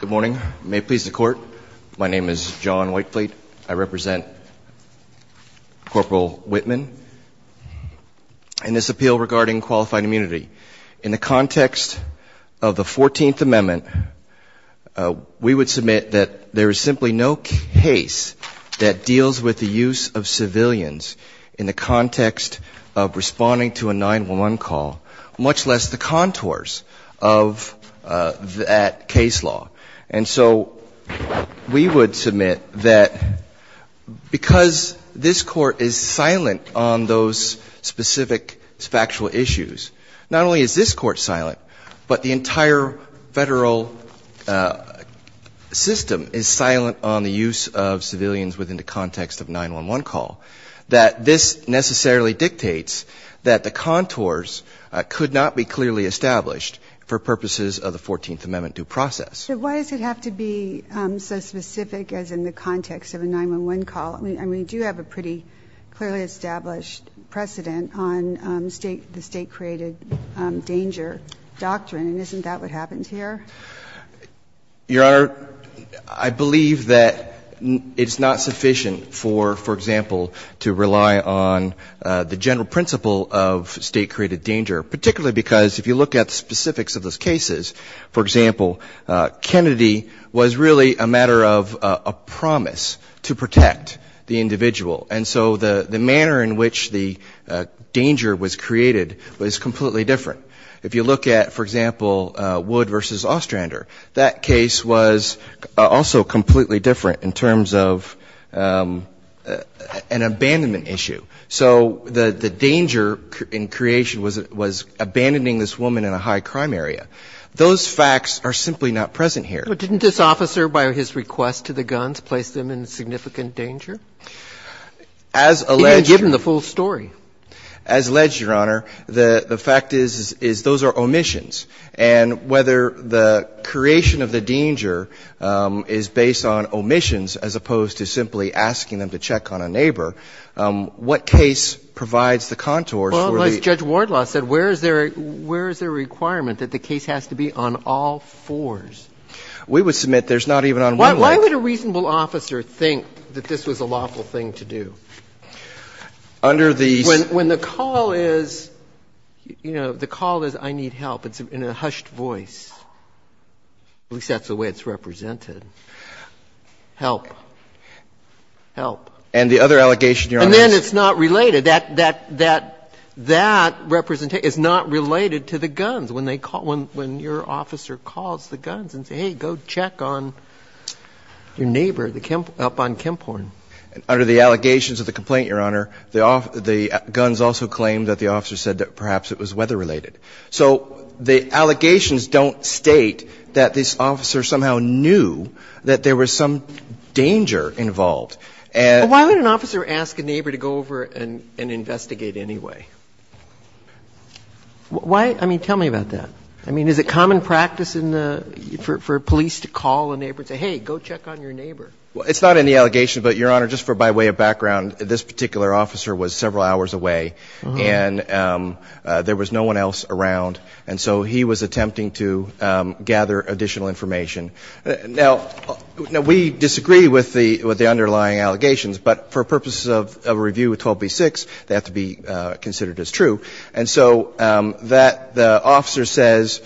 Good morning. May it please the court. My name is John Whitefleet. I represent Corporal Whitman in this appeal regarding qualified immunity. In the context of the 14th Amendment, we would submit that there is simply no case that deals with the use of civilians in the context of responding to a 911 call, much less the contours of that case law. And so we would submit that because this court is silent on those specific factual issues, not only is this court silent, but the entire federal system is silent on the use of civilians within the context of 911 call, that this necessarily dictates that the contours could not be clearly established for purposes of the 14th Amendment due process. So why does it have to be so specific as in the context of a 911 call? I mean, we do have a pretty clearly established precedent on the State-created danger doctrine, and isn't that what happens here? Your Honor, I believe that it's not sufficient for, for example, to rely on the general principle of State-created danger, particularly because if you look at the specifics of those cases, for example, Kennedy was really a matter of a promise to protect the individual. And so the manner in which the danger was created was completely different. If you look at, for example, Wood v. Ostrander, that case was also completely different in terms of an abandonment issue. So the danger in creation was abandoning this woman in a high-crime area. Those facts are simply not present here. But didn't this officer, by his request to the guns, place them in significant danger? Even given the full story. As alleged, Your Honor, the fact is, is those are omissions. And whether the creation of the danger is based on omissions as opposed to simply asking them to check on a neighbor, what case provides the contours for the ---- Well, as Judge Wardlaw said, where is there a requirement that the case has to be on all fours? We would submit there's not even on one link. Why would a reasonable officer think that this was a lawful thing to do? Under the ---- When the call is, you know, the call is, I need help, it's in a hushed voice. At least that's the way it's represented. Help. Help. And the other allegation, Your Honor ---- And then it's not related. That representation is not related to the guns. When they call, when your officer calls the guns and says, hey, go check on your neighbor up on Kemphorn. Under the allegations of the complaint, Your Honor, the guns also claim that the officer said that perhaps it was weather-related. So the allegations don't state that this officer somehow knew that there was some danger involved. And ---- But why would an officer ask a neighbor to go over and investigate anyway? Why? I mean, tell me about that. I mean, is it common practice in the ---- for police to call a neighbor and say, hey, go check on your neighbor? Well, it's not in the allegation. But, Your Honor, just for by way of background, this particular officer was several hours away. And there was no one else around. And so he was attempting to gather additional information. Now, we disagree with the underlying allegations. But for purposes of a review with 12b-6, they have to be considered as true. And so that the officer says,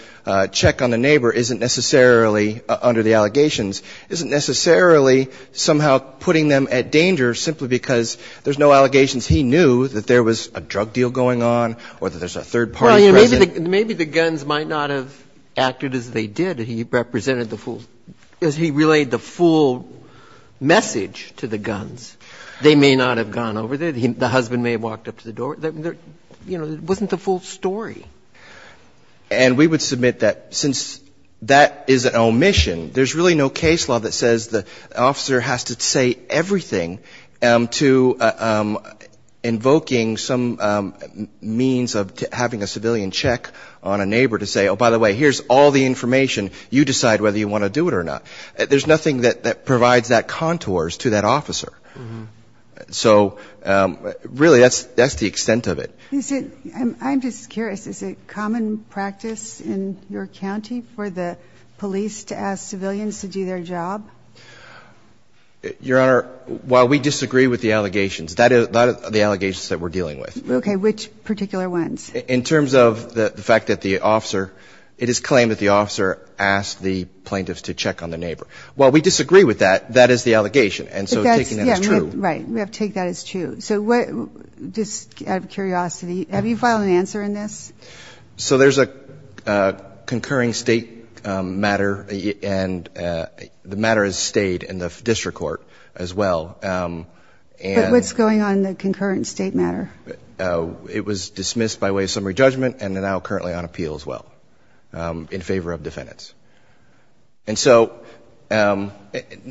check on the neighbor, isn't necessarily, under the circumstances, a third party somehow putting them at danger simply because there's no allegations he knew that there was a drug deal going on or that there's a third party present. Well, maybe the guns might not have acted as they did. He represented the full ---- as he relayed the full message to the guns. They may not have gone over there. The husband may have walked up to the door. You know, it wasn't the full story. And we would submit that since that is an omission, there's really no case law that says the officer has to say everything to invoking some means of having a civilian check on a neighbor to say, oh, by the way, here's all the information. You decide whether you want to do it or not. There's nothing that provides that contours to that officer. So really, that's the extent of it. Is it ---- I'm just curious, is it common practice in your county for the police to ask civilians to do their job? Your Honor, while we disagree with the allegations, that is the allegations that we're dealing with. Okay. Which particular ones? In terms of the fact that the officer ---- it is claimed that the officer asked the plaintiffs to check on the neighbor. While we disagree with that, that is the allegation. And so taking that as true. Right. We have to take that as true. So what ---- just out of curiosity, have you filed an answer in this? So there's a concurring State matter, and the matter has stayed in the district court as well. But what's going on in the concurrent State matter? It was dismissed by way of summary judgment and is now currently on appeal as well in favor of defendants. And so ----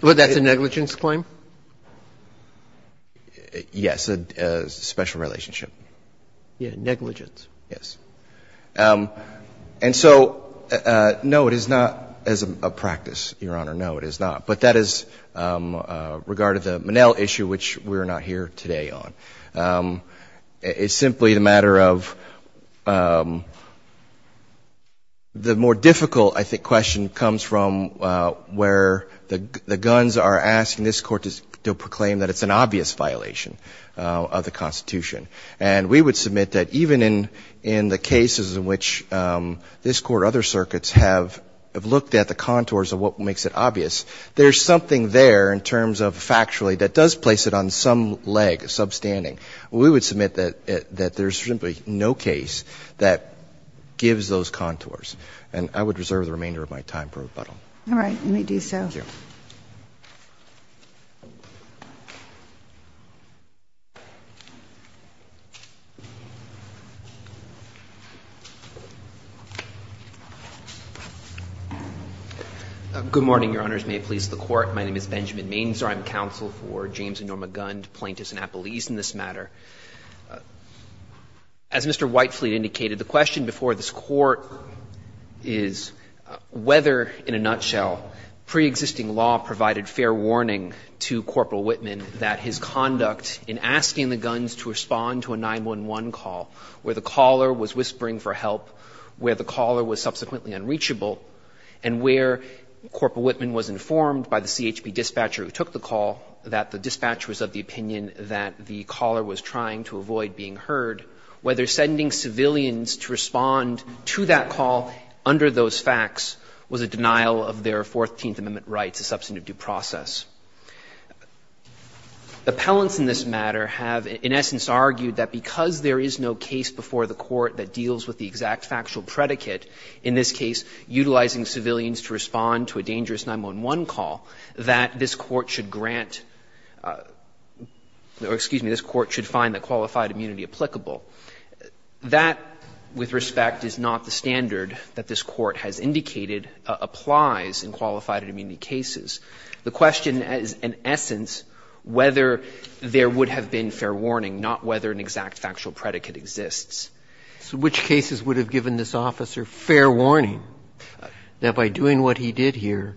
Well, that's a negligence claim? Yes. That's a special relationship. Yeah. Negligence. Yes. And so, no, it is not as a practice, Your Honor. No, it is not. But that is regarding the Monell issue, which we're not here today on. It's simply a matter of the more difficult, I think, question comes from where the the Constitution. And we would submit that even in the cases in which this Court or other circuits have looked at the contours of what makes it obvious, there is something there in terms of factually that does place it on some leg, a substanding. We would submit that there is simply no case that gives those contours. And I would reserve the remainder of my time for rebuttal. All right. Let me do so. Thank you. Good morning, Your Honors. May it please the Court. My name is Benjamin Mainzer. I'm counsel for James and Norma Gund, plaintiffs in Appelese in this matter. As Mr. Whitefleet indicated, the question before this Court is whether, in a nutshell, pre-existing law provided fair warning to Corporal Whitman that his conduct in asking the guns to respond to a 911 call, where the caller was whispering for help, where the caller was subsequently unreachable, and where Corporal Whitman was informed by the CHP dispatcher who took the call that the dispatcher was of the opinion that the caller was trying to avoid being heard, whether sending civilians to respond to that call under those facts was a denial of their Fourteenth Amendment rights, a substantive due process. Appellants in this matter have in essence argued that because there is no case before the Court that deals with the exact factual predicate, in this case utilizing civilians to respond to a dangerous 911 call, that this Court should grant or, excuse me, that that, with respect, is not the standard that this Court has indicated applies in qualified immunity cases. The question is, in essence, whether there would have been fair warning, not whether an exact factual predicate exists. So which cases would have given this officer fair warning that by doing what he did here,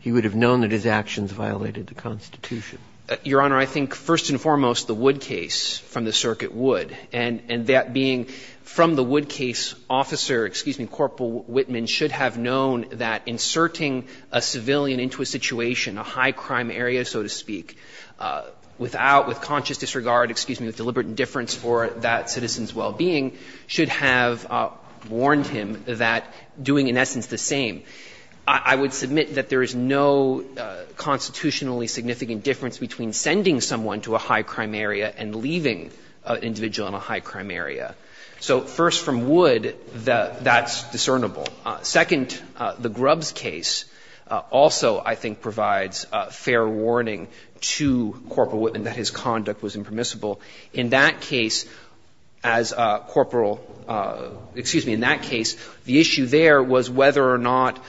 he would have known that his actions violated the Constitution? Your Honor, I think first and foremost the Wood case from the circuit Wood, and that being from the Wood case, officer, excuse me, Corporal Whitman should have known that inserting a civilian into a situation, a high-crime area, so to speak, without with conscious disregard, excuse me, with deliberate indifference for that citizen's well-being should have warned him that doing, in essence, the same. I would submit that there is no constitutionally significant difference between sending someone to a high-crime area and leaving an individual in a high-crime area. So first, from Wood, that's discernible. Second, the Grubbs case also, I think, provides fair warning to Corporal Whitman that his conduct was impermissible. In that case, as a corporal – excuse me, in that case, the issue there was whether or not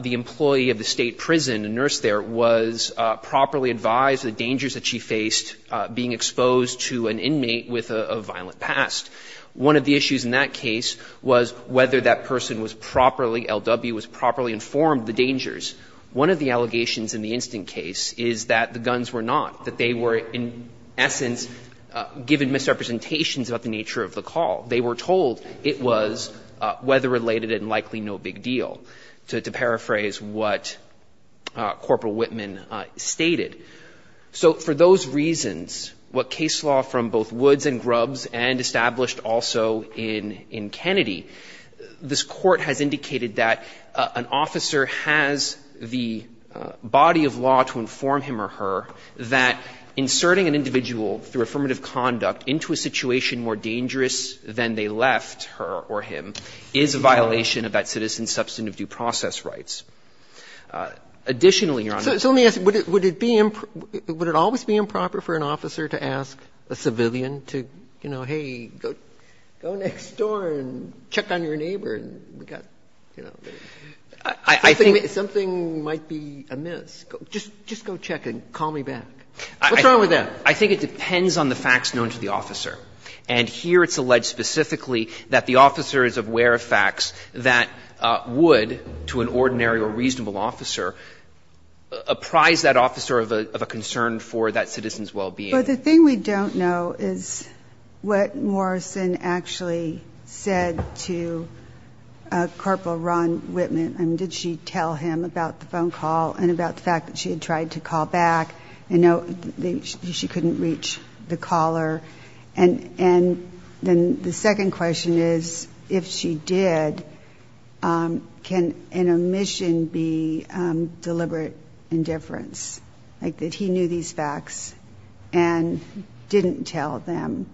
the employee of the State prison, the nurse there, was properly advised of the dangers that she faced being exposed to an inmate with a violent past. One of the issues in that case was whether that person was properly, LW, was properly informed of the dangers. One of the allegations in the instant case is that the guns were not, that they were, in essence, given misrepresentations about the nature of the call. They were told it was weather-related and likely no big deal, to paraphrase what Corporal Whitman stated. So for those reasons, what case law from both Woods and Grubbs and established also in Kennedy, this Court has indicated that an officer has the body of law to inform him or her that inserting an individual through affirmative conduct into a situation more dangerous than they left her or him is a violation of that citizen's substantive Additionally, Your Honor – So let me ask you, would it be – would it always be improper for an officer to ask a civilian to, you know, hey, go next door and check on your neighbor and we got, you know – I think something might be amiss. Just go check and call me back. What's wrong with that? I think it depends on the facts known to the officer. And here it's alleged specifically that the officer is aware of facts that would, to an ordinary or reasonable officer, apprise that officer of a concern for that citizen's well-being. But the thing we don't know is what Morrison actually said to Corporal Ron Whitman. I mean, did she tell him about the phone call and about the fact that she had tried to call back and know that she couldn't reach the caller? And then the second question is, if she did, can an omission be deliberate indifference, like that he knew these facts and didn't tell them?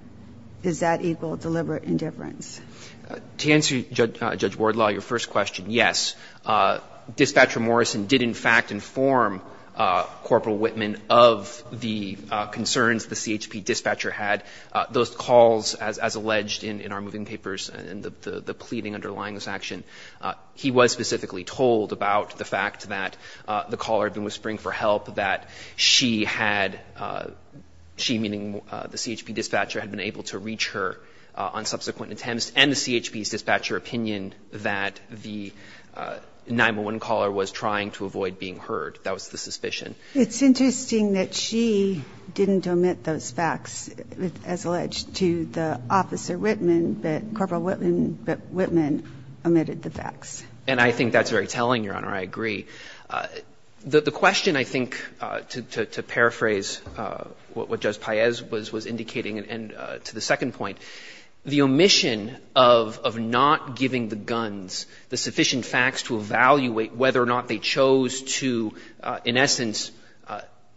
Is that equal deliberate indifference? To answer, Judge Wardlaw, your first question, yes. Dispatcher Morrison did, in fact, inform Corporal Whitman of the concerns the CHP dispatcher had, those calls, as alleged in our moving papers and the pleading underlying this action, he was specifically told about the fact that the caller had been whispering for help, that she had, she meaning the CHP dispatcher, had been able to reach her on subsequent attempts, and the CHP's dispatcher opinion that the 911 caller was trying to avoid being heard. That was the suspicion. It's interesting that she didn't omit those facts, as alleged to the officer Whitman, but Corporal Whitman omitted the facts. And I think that's very telling, Your Honor. I agree. The question, I think, to paraphrase what Judge Paez was indicating, and to the second point, the omission of not giving the guns the sufficient facts to evaluate whether or not they chose to, in essence,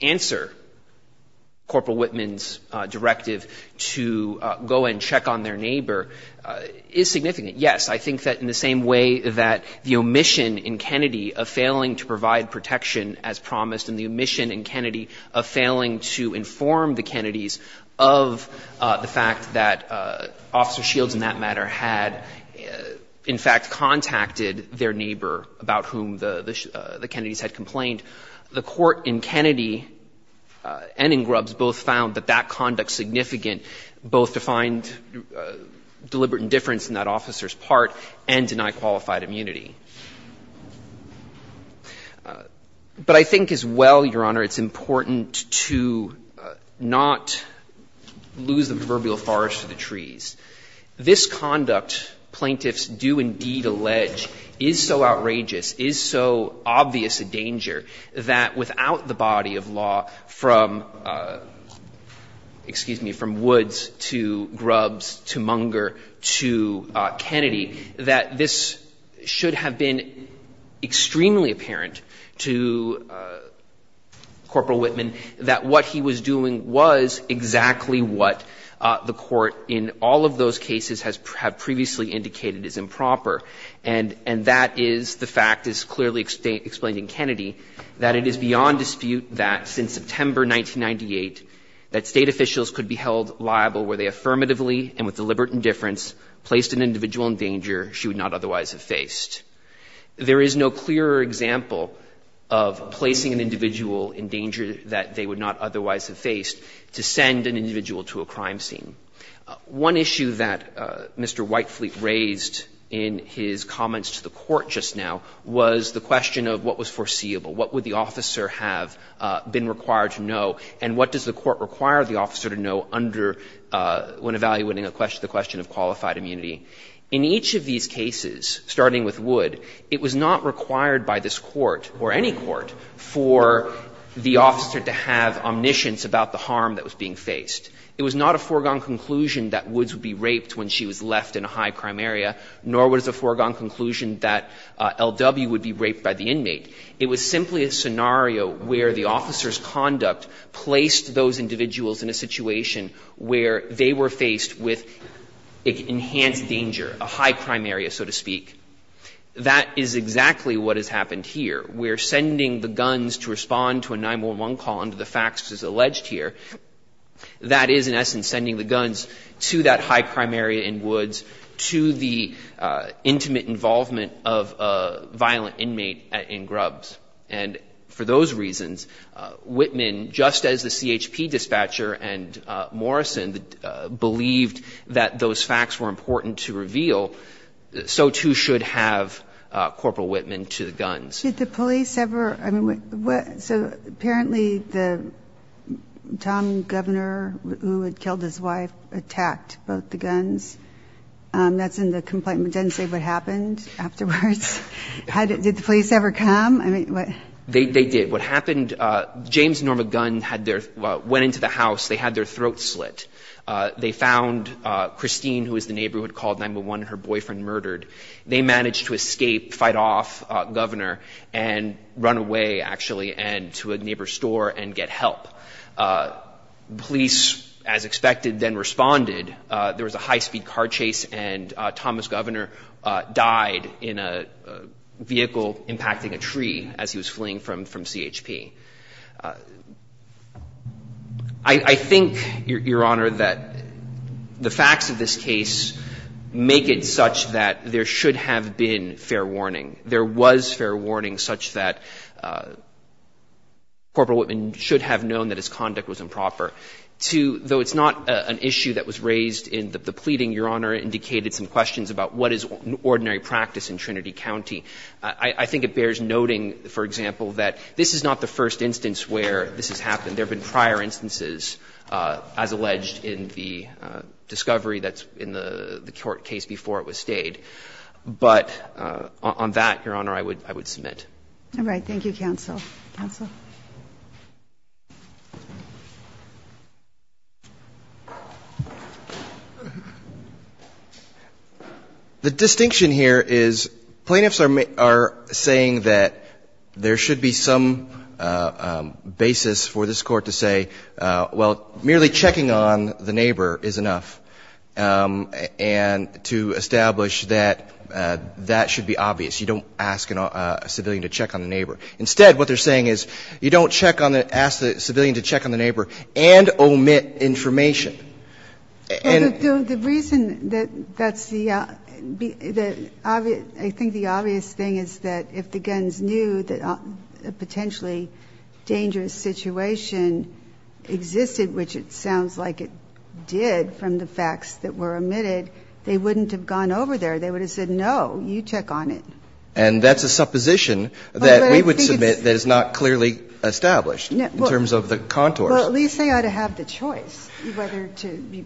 answer Corporal Whitman's directive to go and check on their neighbor is significant. Yes, I think that in the same way that the omission in Kennedy of failing to provide protection as promised and the omission in Kennedy of failing to inform the Kennedys of the fact that Officer Shields, in that matter, had, in fact, contacted their neighbor, the Kennedys had complained, the court in Kennedy and in Grubbs both found that that conduct significant, both to find deliberate indifference in that officer's part and deny qualified immunity. But I think as well, Your Honor, it's important to not lose the proverbial forest to the trees. This conduct, plaintiffs do indeed allege, is so outrageous, is so obvious a danger that without the body of law from, excuse me, from Woods to Grubbs to Munger to Kennedy, that this should have been extremely apparent to Corporal Whitman that what he was doing was exactly what the court in all of those cases has previously indicated is improper. And that is the fact, as clearly explained in Kennedy, that it is beyond dispute that since September 1998 that State officials could be held liable were they affirmatively and with deliberate indifference placed an individual in danger she would not otherwise have faced. There is no clearer example of placing an individual in danger that they would not otherwise have faced to send an individual to a crime scene. One issue that Mr. Whitefleet raised in his comments to the Court just now was the question of what was foreseeable, what would the officer have been required to know, and what does the Court require the officer to know under when evaluating the question of qualified immunity. In each of these cases, starting with Wood, it was not required by this Court or any other court for the officer to have omniscience about the harm that was being faced. It was not a foregone conclusion that Woods would be raped when she was left in a high crime area, nor was it a foregone conclusion that L.W. would be raped by the inmate. It was simply a scenario where the officer's conduct placed those individuals in a situation where they were faced with enhanced danger, a high crime area, so to speak. That is exactly what has happened here. We're sending the guns to respond to a 911 call under the facts as alleged here. That is, in essence, sending the guns to that high crime area in Woods, to the intimate involvement of a violent inmate in Grubbs. And for those reasons, Whitman, just as the CHP dispatcher and Morrison believed that those facts were important to reveal, so too should have Corporal Whitman to the guns. Did the police ever, I mean, what, so apparently the, Tom Governor, who had killed his wife, attacked both the guns. That's in the complaint, but it doesn't say what happened afterwards. Did the police ever come? I mean, what? They did. What happened, James Norma Gunn had their, went into the house. They had their throats slit. They found Christine, who was the neighbor who had called 911, her boyfriend murdered. They managed to escape, fight off Governor. And run away, actually, and to a neighbor's store and get help. Police, as expected, then responded. There was a high-speed car chase and Thomas Governor died in a vehicle impacting a tree as he was fleeing from CHP. I think, Your Honor, that the facts of this case make it such that there should have been fair warning. There was fair warning such that Corporal Whitman should have known that his conduct was improper. Though it's not an issue that was raised in the pleading, Your Honor indicated some questions about what is ordinary practice in Trinity County. I think it bears noting, for example, that this is not the first instance where this has happened. There have been prior instances, as alleged in the discovery that's in the court case before it was stayed. But on that, Your Honor, I would submit. All right. Thank you, counsel. Counsel? The distinction here is plaintiffs are saying that there should be some basis for this Court to say, well, merely checking on the neighbor is enough, and to establish that that should be obvious. You don't ask a civilian to check on the neighbor. Instead, what they're saying is, you don't ask the civilian to check on the neighbor and omit information. And the reason that that's the obvious, I think the obvious thing is that if the guns knew that a potentially dangerous situation existed, which it sounds like it did from the facts that were omitted, they wouldn't have gone over there. They would have said, no, you check on it. And that's a supposition that we would submit that is not clearly established in terms of the contours. Well, at least they ought to have the choice whether to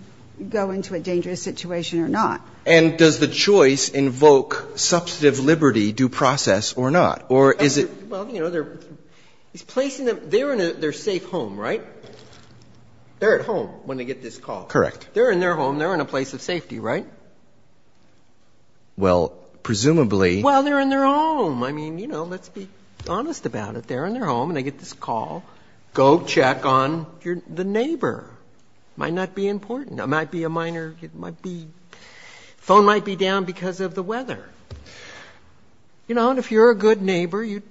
go into a dangerous situation or not. And does the choice invoke substantive liberty due process or not? Or is it? Well, you know, they're placing them they're in their safe home, right? They're at home when they get this call. Correct. They're in their home. They're in a place of safety, right? Well, presumably. Well, they're in their home. I mean, you know, let's be honest about it. They're in their home and they get this call. Go check on the neighbor. It might not be important. It might be a minor, it might be, phone might be down because of the weather. You know, and if you're a good neighbor, you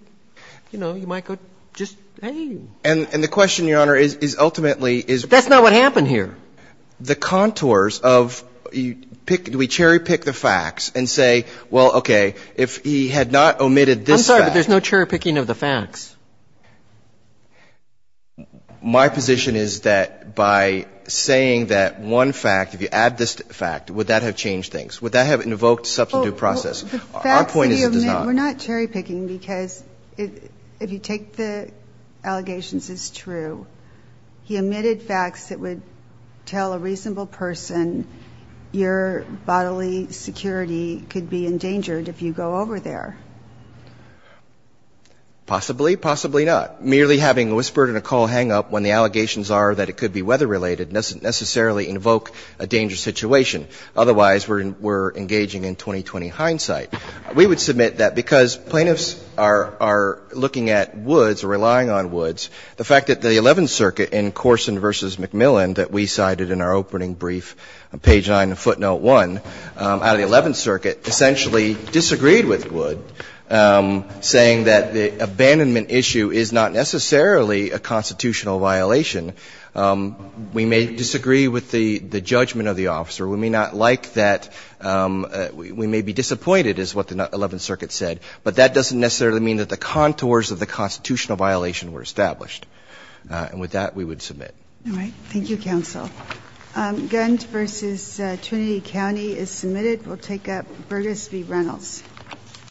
know, you might go just, hey. And the question, Your Honor, is ultimately is. That's not what happened here. The contours of you pick, do we cherry pick the facts and say, well, okay, if he had not omitted this fact. I'm sorry, but there's no cherry picking of the facts. My position is that by saying that one fact, if you add this fact, would that have changed things, would that have invoked substantive process? Our point is it does not. We're not cherry picking because if you take the allegations as true, he omitted facts that would tell a reasonable person your bodily security could be endangered if you go over there. Possibly, possibly not. Merely having a whispered and a call hang up when the allegations are that it could be weather related doesn't necessarily invoke a dangerous situation. Otherwise, we're engaging in 20-20 hindsight. We would submit that because plaintiffs are looking at Woods or relying on Woods, the fact that the Eleventh Circuit in Corson v. McMillan that we cited in our opening brief, page 9 of footnote 1, out of the Eleventh Circuit essentially disagreed with Wood, saying that the abandonment issue is not necessarily a constitutional violation. We may disagree with the judgment of the officer. We may not like that. We may be disappointed, is what the Eleventh Circuit said, but that doesn't necessarily mean that the contours of the constitutional violation were established. And with that, we would submit. All right. Thank you, counsel. Gunt v. Trinity County is submitted. We'll take up Burgess v. Reynolds.